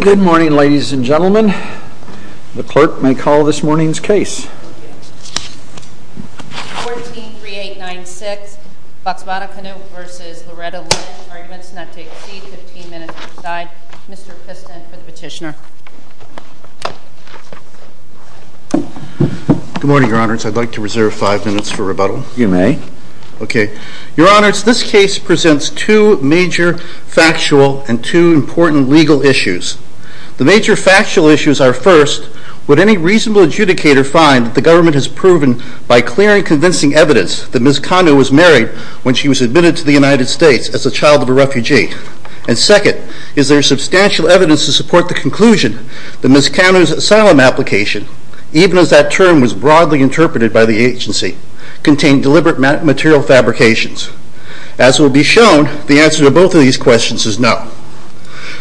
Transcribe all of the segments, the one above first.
Good morning, ladies and gentlemen. The clerk may call this morning's case. 143896, Batsmata Kanu v. Loretta Lynch. Arguments not to exceed 15 minutes per side. Mr. Piston for the petitioner. Good morning, Your Honors. I'd like to reserve five minutes for rebuttal. You may. Okay, Your Honors, this case presents two major factual and two important legal issues. The major factual issues are first, would any reasonable adjudicator find the government has proven by clear and convincing evidence that Ms. Kanu was married when she was admitted to the United States as a child of a refugee? And second, is there substantial evidence to support the conclusion that Ms. Kanu's asylum application, even as that term was broadly interpreted by the agency, contained deliberate material fabrications? As will be shown, the answer to both of these questions is no.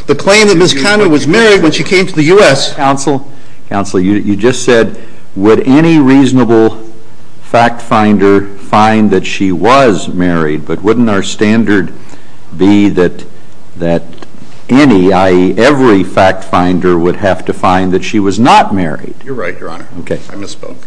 The claim that Ms. Kanu was married when she came to the U.S. Counsel, counsel, you just said would any reasonable fact finder find that she was married, but wouldn't our standard be that that any, i.e., every fact finder would have to find that she was not married? You're right, Your Honor. Okay. I misspoke.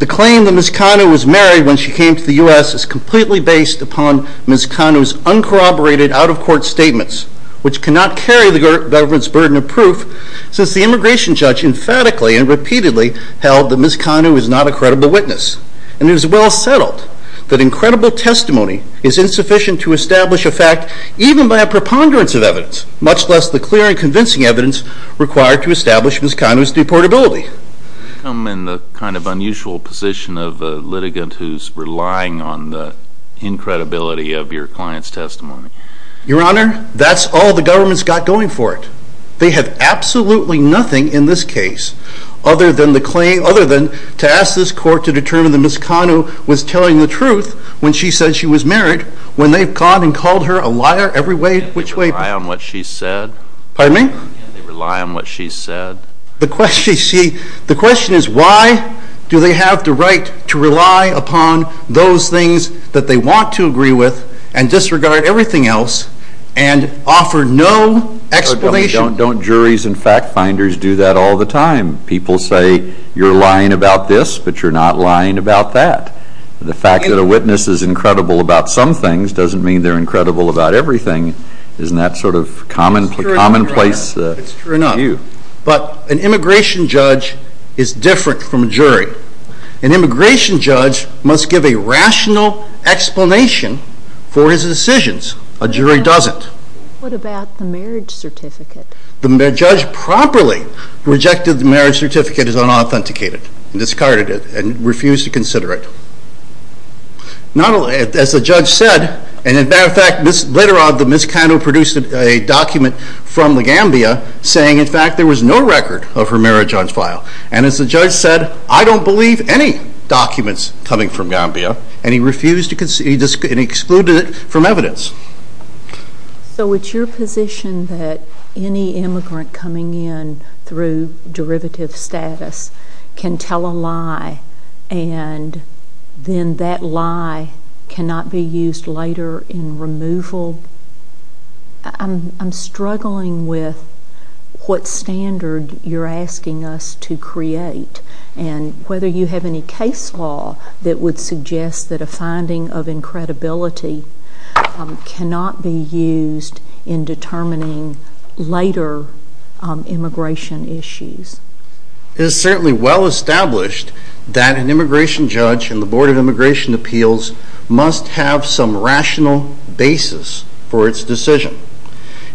The claim that Ms. Kanu was married when she came to the U.S. is completely based upon Ms. Kanu's uncorroborated out-of-court statements, which cannot carry the government's burden of proof, since the immigration judge emphatically and repeatedly held that Ms. Kanu is not a credible witness. And it is well settled that incredible testimony is insufficient to establish a fact, even by a preponderance of evidence, much less the clear and convincing evidence required to establish Ms. Kanu's deportability. I come in the kind of unusual position of a litigant who's relying on the incredibility of your client's testimony. Your Honor, that's all the government's got going for it. They have absolutely nothing in this case other than the claim, other than to ask this court to determine that Ms. Kanu was telling the truth when she said she was married, when they've gone and called her a liar every way, which way. They rely on what she said? Pardon me? They rely on what she said? The question is why do they have the right to rely upon those things that they want to agree with and disregard everything else and offer no explanation? Don't juries and fact-finders do that all the time. People say you're lying about this, but you're not lying about that. The fact that a witness is incredible about some things doesn't mean they're incredible about everything. Isn't that sort of commonplace? It's true enough, but an immigration judge is different from a jury. An immigration judge must give a rational explanation for his decisions. A jury doesn't. What about the marriage certificate? The judge properly rejected the marriage certificate as unauthenticated and discarded it and refused to consider it. As the judge said, and as a matter of fact, later on Ms. Kanu produced a document from the Gambia saying in fact there was no record of her marriage on file. And as the judge said, I don't believe any documents coming from Gambia, and he refused to consider it and excluded it from evidence. So it's your position that any immigrant coming in through derivative status can tell a lie and then that lie cannot be used later in removal. I'm struggling with what standard you're asking us to create and whether you have any case law that would suggest that a finding of incredibility cannot be used in determining later immigration issues. It is certainly well established that an immigration judge and the Board of Immigration Appeals must have some rational basis for its decision.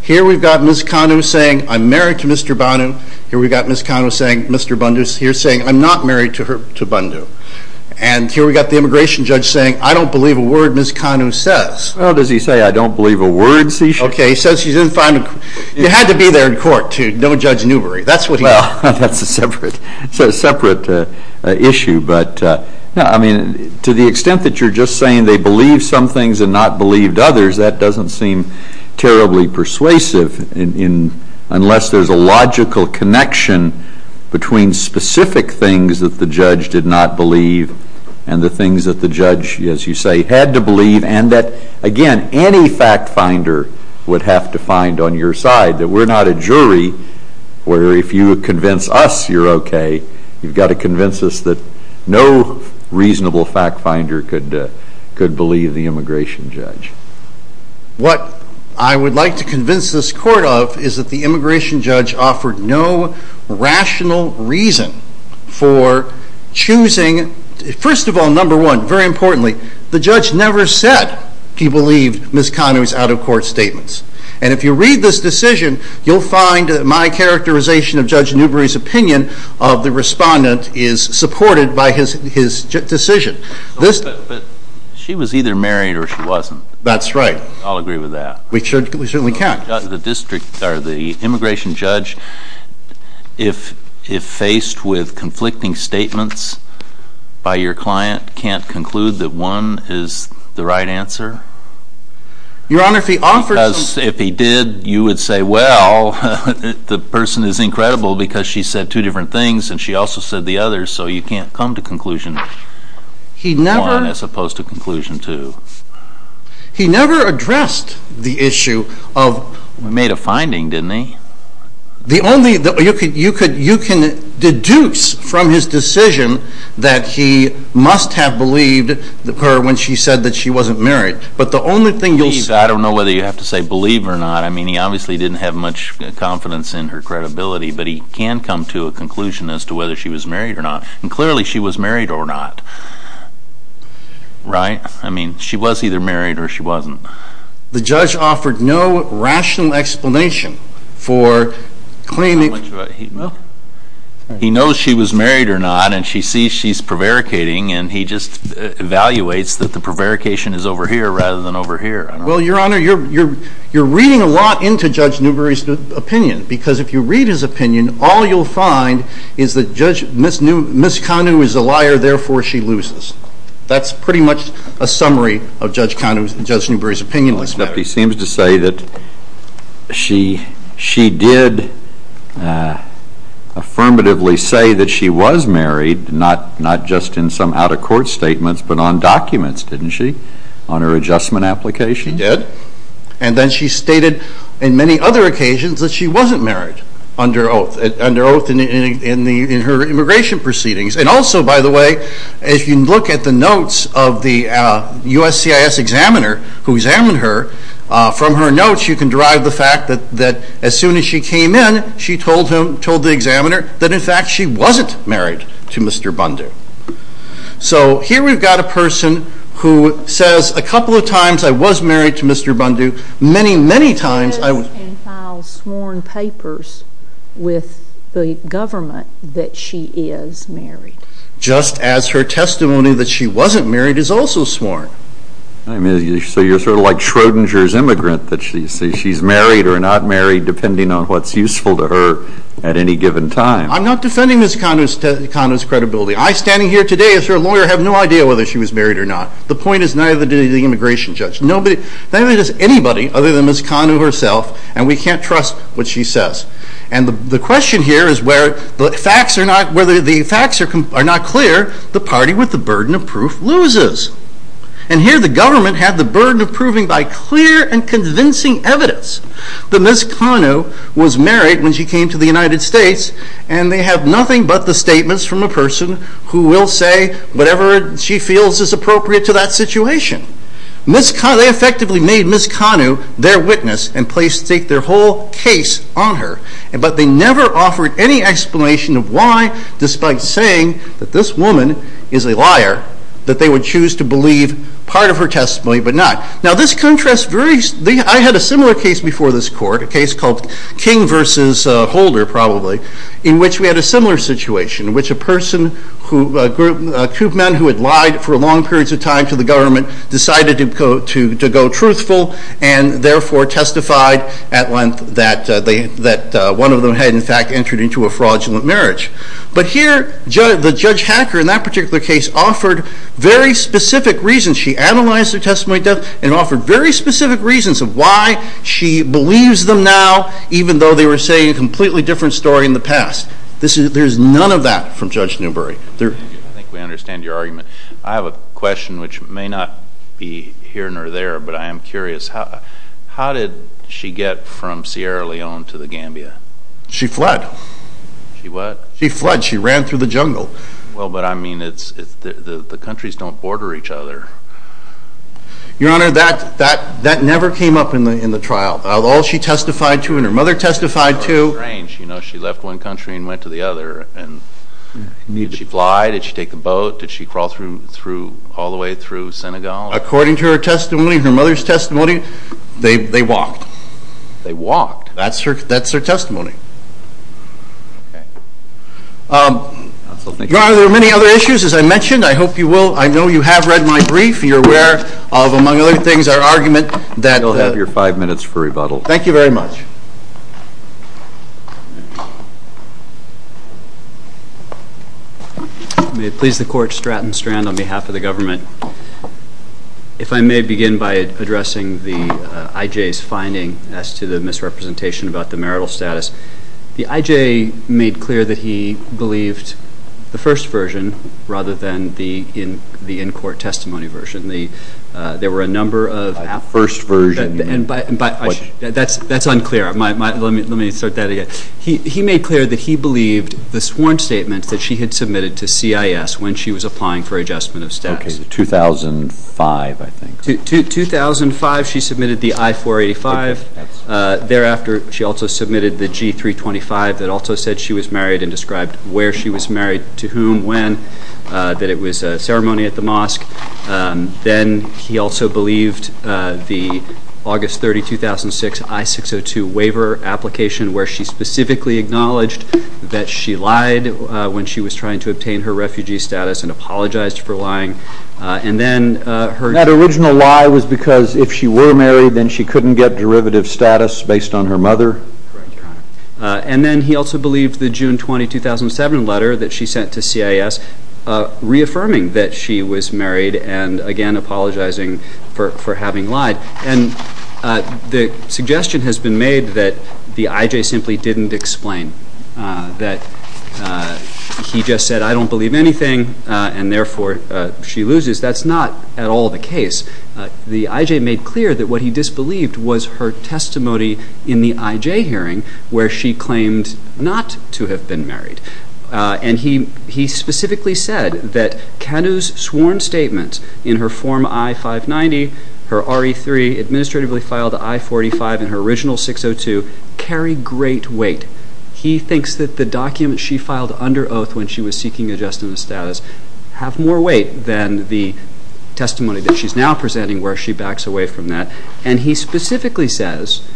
Here we've got Ms. Kanu saying, I'm married to Mr. Bandu. Here we've got Ms. Kanu saying, Mr. Bandu's here saying, I'm not married to Bandu. And here we've got the immigration judge saying, I don't believe a word Ms. Kanu says. Well, does he say I don't believe a word he says? Okay, he says you didn't find him. You had to be there in court to know Judge Newbery. That's what he said. Well, that's a separate issue, but I mean, to the extent that you're just saying they believe some things and not believed others, that doesn't seem terribly persuasive unless there's a logical connection between specific things that the judge did not believe and the things that the judge, as you say, had to believe and that, again, any fact finder would have to find on your side that we're not a jury where if you convince us you're okay, you've got to convince us that no reasonable fact finder could believe the immigration judge. What I would like to convince this court of is that the immigration judge offered no rational reason for choosing, first of all, number one, very importantly, the judge never said he believed Ms. Kanu's out-of-court statements. And if you read this decision, you'll find that my characterization of Judge Newbery's opinion of the respondent is supported by his decision. But she was either married or she wasn't. That's right. I'll agree with that. We certainly can. The district, or the immigration judge, if faced with conflicting statements by your client, can't conclude that one is the right answer? Your Honor, if he offered... Because if he did, you would say, well, the person is incredible because she said two different things and she also said the other, so you can't come to conclusion one as opposed to conclusion two. He never addressed the issue of... He made a finding, didn't he? The only... You can deduce from his decision that he must have believed her when she said that she wasn't married, but the only thing you'll... I don't know whether you have to say believe or not. I mean, he obviously didn't have much confidence in her credibility, but he can come to a conclusion as to whether she was married or not, and clearly she was married or not. Right? I mean, she was either married or she wasn't. The judge offered no rational explanation for claiming... He knows she was married or not, and she sees she's prevaricating, and he just evaluates that the prevarication is over here rather than over here. Well, Your Honor, you're reading a lot into Judge Newbery's opinion, because if you read his opinion, all you'll find is that Judge... Ms. Kanu is a liar, therefore she loses. That's pretty much a summary of Judge Kanu's... Judge Newbery's opinion. He seems to say that she did affirmatively say that she was married, not just in some out-of-court statements, but on documents, didn't she, on her adjustment application? She did, and then she stated in many other occasions that she wasn't married under oath, under oath in her immigration proceedings, and also, by the way, if you look at the notes of the USCIS examiner who examined her, from her notes, you can derive the fact that as soon as she came in, she told him, told the examiner, that in fact, she wasn't married to Mr. Bundu. So here we've got a person who says a couple of times, I was married to Mr. Bundu. Many, many times, I was... ...sworn papers with the government that she is married. Just as her testimony that she wasn't married is also sworn. I mean, so you're sort of like Schrodinger's immigrant, that she's married or not married, depending on what's useful to her at any given time. I'm not defending Ms. Kanu's credibility. I, standing here today, as her lawyer, have no idea whether she was married or not. The point is neither did the immigration judge. Nobody, neither does anybody, other than Ms. Kanu herself, and we can't trust what she says. And the question here is where the facts are not clear, the party with the burden of proof loses. And here the government had the burden of proving by clear and convincing evidence that Ms. Kanu was married when she came to the United States, and they have nothing but the statements from a person who will say whatever she feels is appropriate to that situation. Ms. Kanu, they effectively made Ms. Kanu their witness and placed their whole case on her, but they never offered any explanation of why, despite saying that this woman is a liar, that they would choose to believe part of her testimony, but not. Now this contrast varies. I had a similar case before this court, a case called King versus Holder, probably, in which we had a similar situation, in which a person who, two men who had lied for long periods of time to the government, decided to go truthful and therefore testified at length that one of them had, in fact, entered into a fraudulent marriage. But here, the Judge Hacker, in that particular case, offered very specific reasons. She analyzed their testimony and offered very specific reasons of why she believes them now, even though they were saying a completely different story in the past. There's none of that from Judge Newbery. I think we understand your argument. I have a question which may not be here nor there, but I am curious. How did she get from Sierra Leone to the Gambia? She fled. She what? She fled. She ran through the jungle. Well, but I mean, the countries don't border each other. Your Honor, that never came up in the trial. All she testified to, and her mother testified to... Strange. You know, she left one country and went to the other. Did she fly? Did she take a boat? Did she crawl all the way through Senegal? According to her testimony, her mother's testimony, they walked. They walked? That's her testimony. Your Honor, there are many other issues, as I mentioned. I hope you will. I know you have read my brief. You're aware of, among other things, our argument that... You'll have your five minutes for rebuttal. Thank you very much. May it please the Court, Stratton Strand, on behalf of the government. If I may begin by addressing the I.J.'s finding as to the misrepresentation about the marital status. The I.J. made clear that he believed the first version, rather than the in-court testimony version. There were a number of... By the first version, you mean... That's unclear. Let me start that again. He made clear that he believed the sworn statement that she had submitted to CIS when she was applying for adjustment of status. Okay, the 2005, I think. 2005, she submitted the I-485. Thereafter, she also submitted the G-325 that also said she was married and described where she was married, to whom, when, that it was a ceremony at the mosque. Then, he also believed the August 30, 2006, I-602 waiver application, where she specifically acknowledged that she lied when she was trying to obtain her refugee status and apologized for lying. And then her... That original lie was because if she were married, then she couldn't get derivative status based on her mother. Correct, Your Honor. And then, he also believed the June 20, 2007 letter that she sent to CIS, reaffirming that she was married and, again, apologizing for having lied. And the suggestion has been made that the I.J. simply didn't explain, that he just said, I don't believe anything and, therefore, she loses. That's not at all the case. The I.J. made clear that what he disbelieved was her testimony in the I.J. hearing, where she claimed not to have been married. And he specifically said that Kanu's sworn statement in her Form I-590, her RE-3, administratively filed I-485, and her original 602 carry great weight. He thinks that the documents she filed under oath when she was seeking adjustment of status have more weight than the testimony that she's now presenting, where she backs away from that. And he specifically says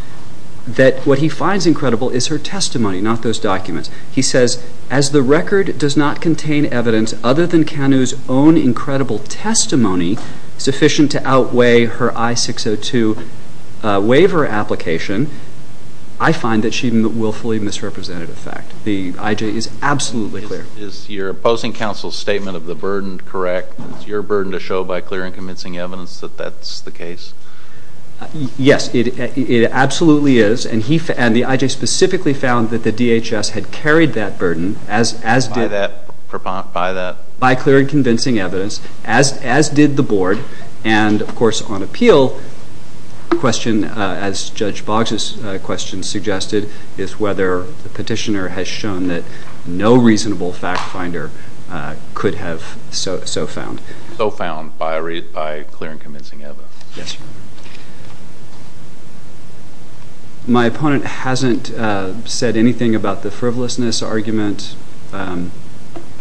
that what he finds incredible is her testimony, not those documents. He says, as the record does not contain evidence other than Kanu's own incredible testimony sufficient to outweigh her I-602 waiver application, I find that she willfully misrepresented a fact. The I.J. is absolutely clear. Is your opposing counsel's statement of the burden correct? Is your burden to show by clear and convincing evidence that that's the case? Yes, it absolutely is. And the I.J. specifically found that the DHS had carried that burden, as did, by clear and convincing evidence, as did the Board. And, of course, on appeal, the question, as Judge Boggs' question suggested, is whether the petitioner has shown that no reasonable fact finder could have so found. So found by clear and convincing evidence. Yes. My opponent hasn't said anything about the frivolousness argument. And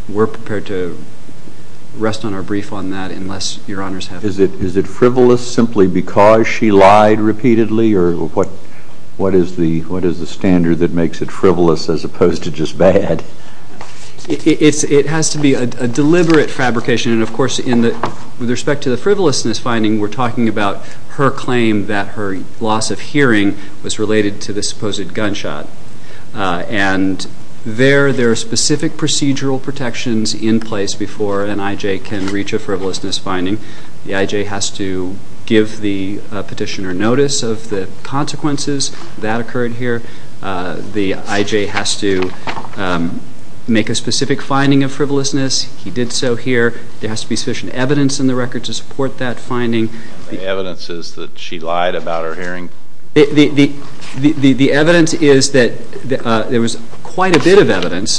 we're prepared to rest on our brief on that, unless your honors have it. Is it frivolous simply because she lied repeatedly? Or what is the standard that makes it frivolous as opposed to just bad? It has to be a deliberate fabrication. And, of course, with respect to the frivolousness finding, we're talking about her claim that her loss of hearing was related to the supposed gunshot. And there are specific procedural protections in place before an I.J. can reach a frivolousness finding. The I.J. has to give the petitioner notice of the consequences that occurred here. The I.J. has to make a specific finding of frivolousness. He did so here. There has to be sufficient evidence in the record to support that finding. The evidence is that she lied about her hearing? The evidence is that there was quite a bit of evidence.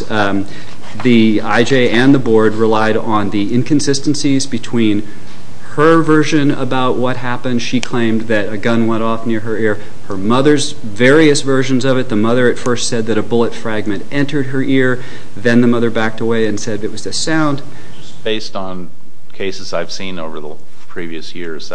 The I.J. and the board relied on the inconsistencies between her version about what happened. She claimed that a gun went off near her ear. Her mother's various versions of it. The mother at first said that a bullet fragment entered her ear. Then the mother backed away and said it was the sound. Based on cases I've seen over the previous years,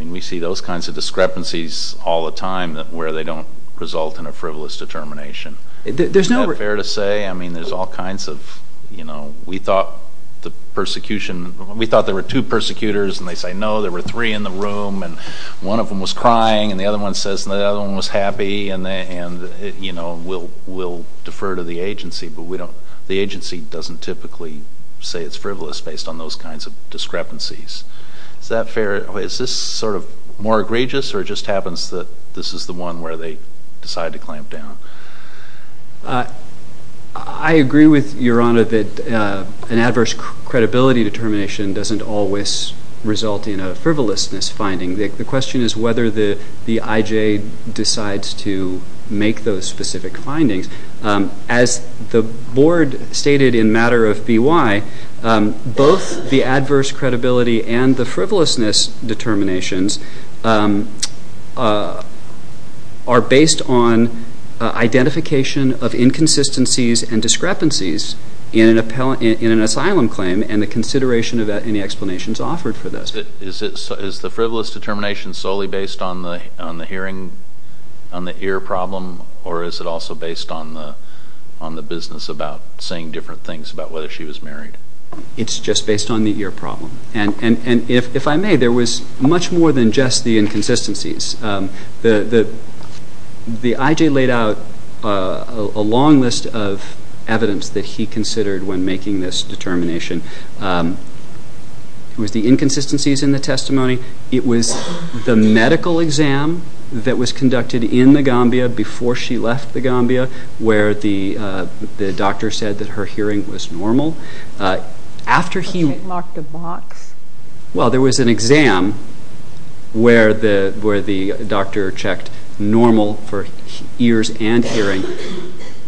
we see those kinds of discrepancies all the time where they don't result in a frivolous determination. Isn't that fair to say? I mean, there's all kinds of, you know, we thought the persecution, we thought there were two persecutors. And they say, no, there were three in the room. And one of them was crying. And the other one says the other one was happy. And, you know, we'll defer to the agency. But we don't, the agency doesn't typically say it's frivolous based on those kinds of discrepancies. Is that fair, is this sort of more egregious? Or it just happens that this is the one where they decide to clamp down? I agree with Your Honor that an adverse credibility determination doesn't always result in a frivolousness finding. The question is whether the I.J. decides to make those specific findings. As the Board stated in matter of B.Y., both the adverse credibility and the frivolousness determinations are based on identification of inconsistencies and discrepancies in an asylum claim and the consideration of any explanations offered for those. Is the frivolous determination solely based on the hearing, on the ear problem? Or is it also based on the business about saying different things about whether she was married? It's just based on the ear problem. And if I may, there was much more than just the inconsistencies. The I.J. laid out a long list of evidence that he considered when making this determination. It was the inconsistencies in the testimony, it was the medical exam that was conducted in the Gambia before she left the Gambia where the doctor said that her hearing was normal. After he... Was it marked a box? Well, there was an exam where the doctor checked normal for ears and hearing.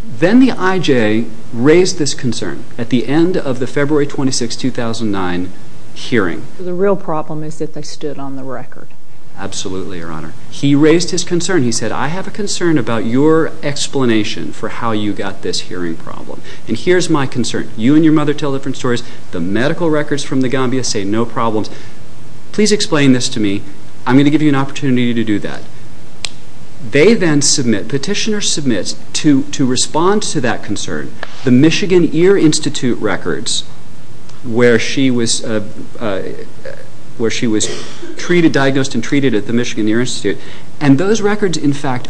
Then the I.J. raised this concern at the end of the February 26, 2009 hearing. The real problem is that they stood on the record. Absolutely, Your Honor. He raised his concern. He said, I have a concern about your explanation for how you got this hearing problem. And here's my concern. You and your mother tell different stories. The medical records from the Gambia say no problems. Please explain this to me. I'm going to give you an opportunity to do that. They then submit, petitioner submits to respond to that concern, the Michigan Ear Institute records where she was treated, diagnosed and treated at the Michigan Ear Institute. And those records, in fact,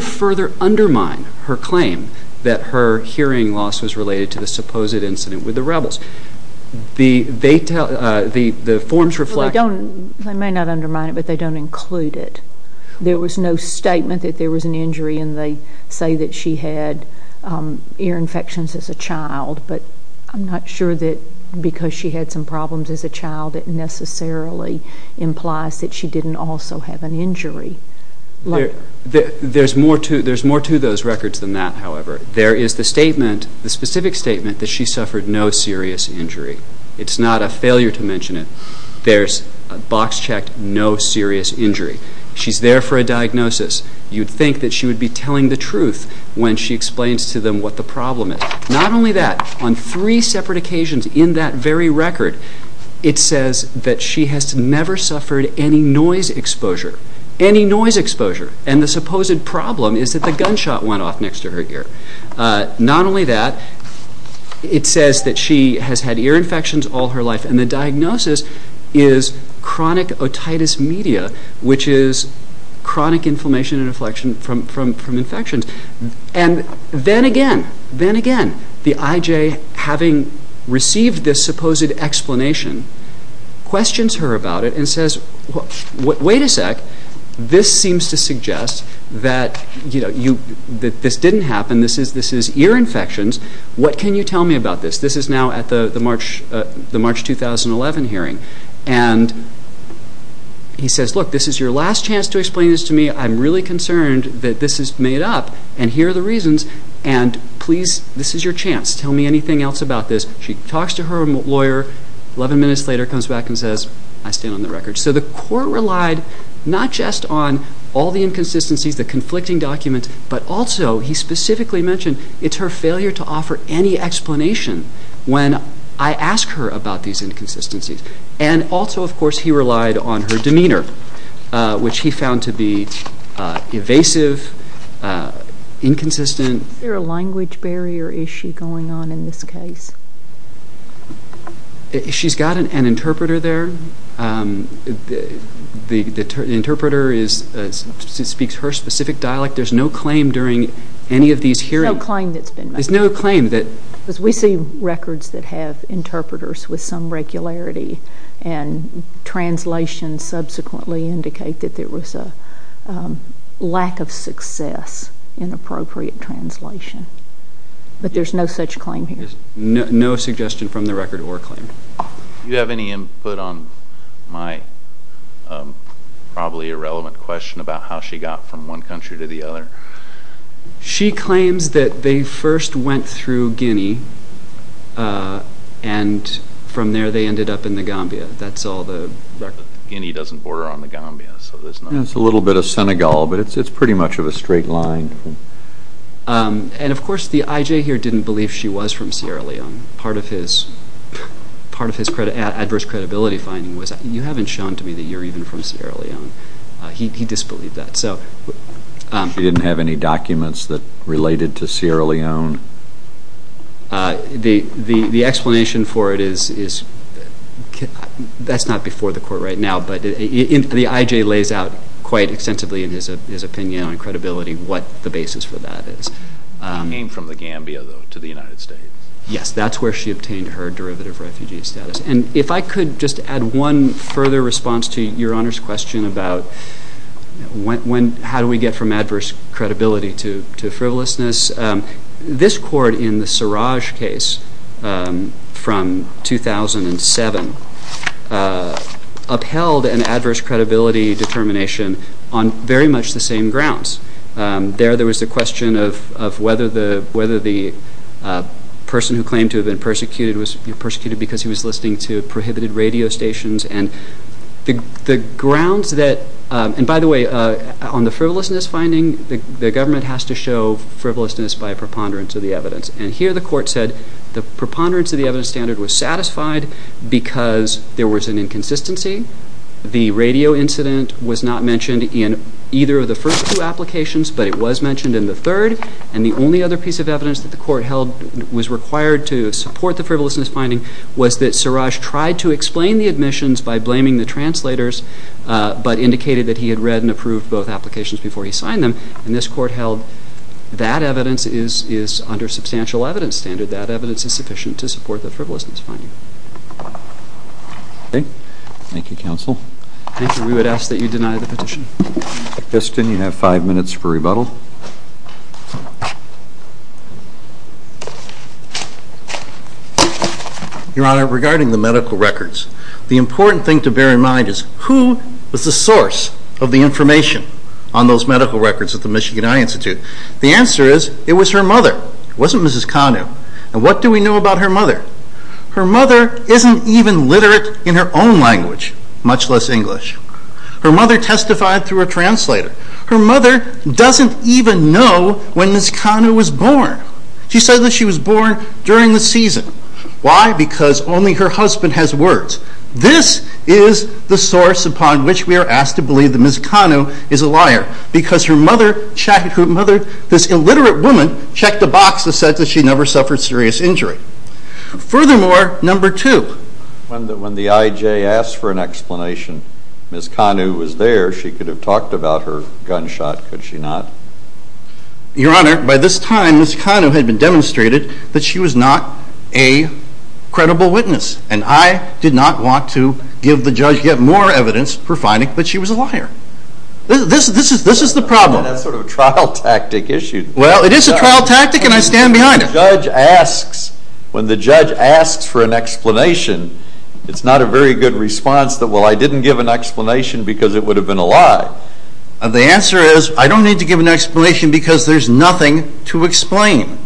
further undermine her claim that her hearing loss was related to the supposed incident with the rebels. The forms reflect... They may not undermine it, but they don't include it. There was no statement that there was an injury, and they say that she had ear infections as a child. But I'm not sure that because she had some problems as a child, it necessarily implies that she didn't also have an injury. There's more to those records than that, however. There is the statement, the specific statement, that she suffered no serious injury. It's not a failure to mention it. There's a box checked, no serious injury. She's there for a diagnosis. You'd think that she would be telling the truth when she explains to them what the problem is. Not only that, on three separate occasions in that very record, it says that she has never suffered any noise exposure. Any noise exposure. And the supposed problem is that the gunshot went off next to her ear. Not only that, it says that she has had ear infections all her life. And the diagnosis is chronic otitis media, which is chronic inflammation and inflection from infections. And then again, the IJ, having received this supposed explanation, questions her about it and says, wait a sec, this seems to suggest that this didn't happen. This is ear infections. What can you tell me about this? This is now at the March 2011 hearing. And he says, look, this is your last chance to explain this to me. I'm really concerned that this is made up. And here are the reasons. And please, this is your chance. Tell me anything else about this. She talks to her lawyer. 11 minutes later, comes back and says, I stand on the record. So the court relied not just on all the inconsistencies, the conflicting documents, but also, he specifically mentioned, it's her failure to offer any explanation when I ask her about these inconsistencies. And also, of course, he relied on her demeanor, which he found to be evasive, inconsistent. Is there a language barrier issue going on in this case? She's got an interpreter there. The interpreter speaks her specific dialect. There's no claim during any of these hearings. There's no claim that's been made. There's no claim that. Because we see records that have interpreters with some regularity. And translations subsequently indicate that there was a lack of success in appropriate translation. But there's no such claim here. No suggestion from the record or claim. Do you have any input on my probably irrelevant question about how she got from one country to the other? She claims that they first went through Guinea. And from there, they ended up in the Gambia. That's all the record. Guinea doesn't border on the Gambia. So there's no... It's a little bit of Senegal. But it's pretty much of a straight line. And of course, the IJ here didn't believe she was from Sierra Leone. Part of his adverse credibility finding was, you haven't shown to me that you're even from Sierra Leone. He disbelieved that. She didn't have any documents that related to Sierra Leone? The explanation for it is... That's not before the court right now. But the IJ lays out quite extensively in his opinion and credibility what the basis for that is. She came from the Gambia, though, to the United States. Yes. That's where she obtained her derivative refugee status. And if I could just add one further response to Your Honor's question about, how do we get from adverse credibility to frivolousness? This court in the Siraj case from 2007 upheld an adverse credibility determination on very much the same grounds. There, there was a question of whether the person who claimed to have been persecuted was persecuted because he was listening to prohibited radio stations. And the grounds that... And by the way, on the frivolousness finding, the government has to show frivolousness by preponderance of the evidence. And here the court said the preponderance of the evidence standard was satisfied because there was an inconsistency. The radio incident was not mentioned in either of the first two applications, but it was mentioned in the third. And the only other piece of evidence that the court held was required to support the frivolousness finding was that Siraj tried to explain the admissions by blaming the translators, but indicated that he had read and approved both applications before he signed them. And this court held that evidence is under substantial evidence standard. That evidence is sufficient to support the frivolousness finding. Okay. Thank you, Counsel. Thank you. We would ask that you deny the petition. Kiston, you have five minutes for rebuttal. Your Honor, regarding the medical records, the important thing to bear in mind is who was the source of the information on those medical records at the Michigan Eye Institute? The answer is it was her mother. It wasn't Mrs. Kanu. And what do we know about her mother? Her mother isn't even literate in her own language, much less English. Her mother testified through a translator. Her mother doesn't even know when Mrs. Kanu was born. She said that she was born during the season. Why? Because only her husband has words. This is the source upon which we are asked to believe that Mrs. Kanu is a liar, because this illiterate woman checked a box that said that she never suffered serious injury. Furthermore, number two. When the IJ asked for an explanation, Mrs. Kanu was there. She could have talked about her gunshot. Could she not? Your Honor, by this time, Mrs. Kanu had been demonstrated that she was not a credible witness. And I did not want to give the judge yet more evidence for finding that she was a liar. This is the problem. That's sort of a trial tactic issue. Well, it is a trial tactic, and I stand behind it. When the judge asks for an explanation, it's not a very good response that, well, the answer is, I don't need to give an explanation because there's nothing to explain.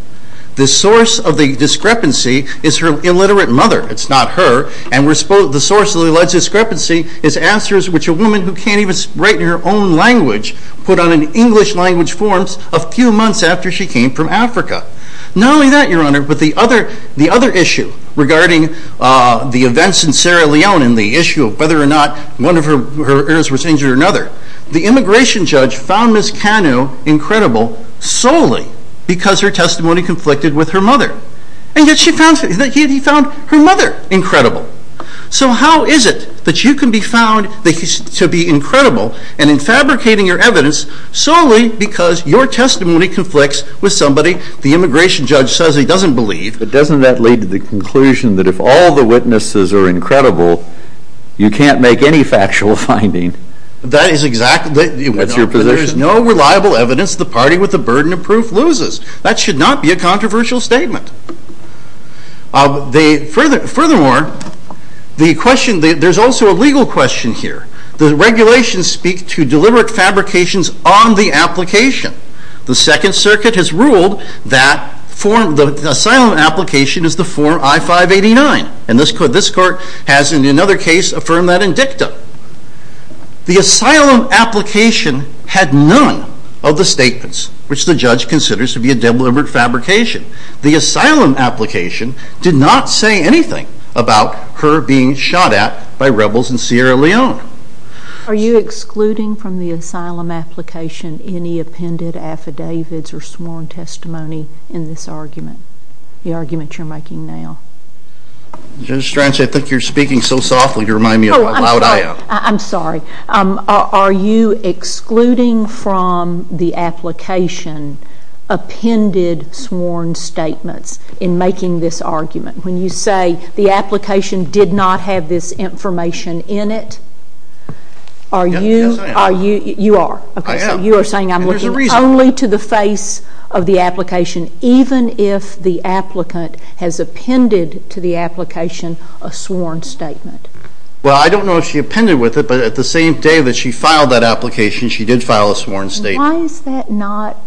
The source of the discrepancy is her illiterate mother. It's not her. And the source of the alleged discrepancy is answers which a woman who can't even write in her own language put on an English language form a few months after she came from Africa. Not only that, Your Honor, but the other issue regarding the events in Sierra Leone and the other, the immigration judge found Mrs. Kanu incredible solely because her testimony conflicted with her mother. And yet he found her mother incredible. So how is it that you can be found to be incredible and in fabricating your evidence solely because your testimony conflicts with somebody the immigration judge says he doesn't believe? But doesn't that lead to the conclusion that if all the witnesses are incredible, you can't make any factual finding? That is exactly... That's your position? There is no reliable evidence the party with the burden of proof loses. That should not be a controversial statement. Furthermore, the question, there's also a legal question here. The regulations speak to deliberate fabrications on the application. The Second Circuit has ruled that the asylum application is the form I-589. And this court has, in another case, affirmed that in dicta. The asylum application had none of the statements which the judge considers to be a deliberate fabrication. The asylum application did not say anything about her being shot at by rebels in Sierra Leone. Are you excluding from the asylum application any appended affidavits or sworn testimony in this argument, the argument you're making now? Judge Stranch, I think you're speaking so softly, you remind me of my loud eye out. I'm sorry. Are you excluding from the application appended sworn statements in making this argument? When you say the application did not have this information in it, are you... Yes, I am. You are? I am. So you are saying I'm looking only to the face of the application, even if the applicant has appended to the application a sworn statement? Well, I don't know if she appended with it, but at the same day that she filed that application, she did file a sworn statement. Why is that not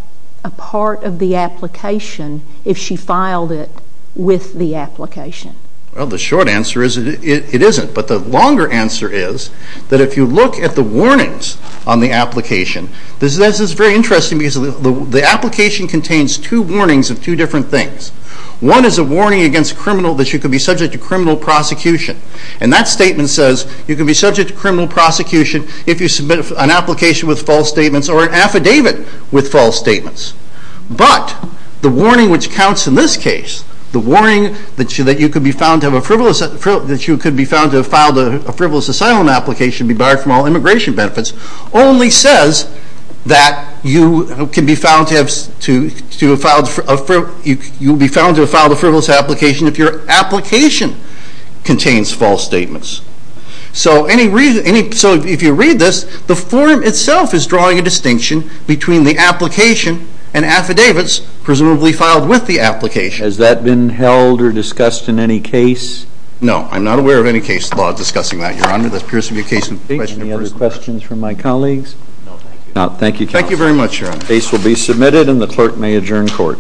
a part of the application if she filed it with the application? Well, the short answer is it isn't. But the longer answer is that if you look at the warnings on the application, this is very interesting because the application contains two warnings of two different things. One is a warning against criminal, that you could be subject to criminal prosecution. And that statement says you can be subject to criminal prosecution if you submit an application with false statements or an affidavit with false statements. But the warning which counts in this case, the warning that you could be found to have a frivolous... That you could be found to have filed a frivolous asylum application, be barred from all immigration be found to have filed a frivolous application if your application contains false statements. So if you read this, the form itself is drawing a distinction between the application and affidavits presumably filed with the application. Has that been held or discussed in any case? No, I'm not aware of any case law discussing that, Your Honor. That appears to be a case in question. Any other questions from my colleagues? Thank you, counsel. Thank you very much, Your Honor. Case will be submitted and the clerk may adjourn court.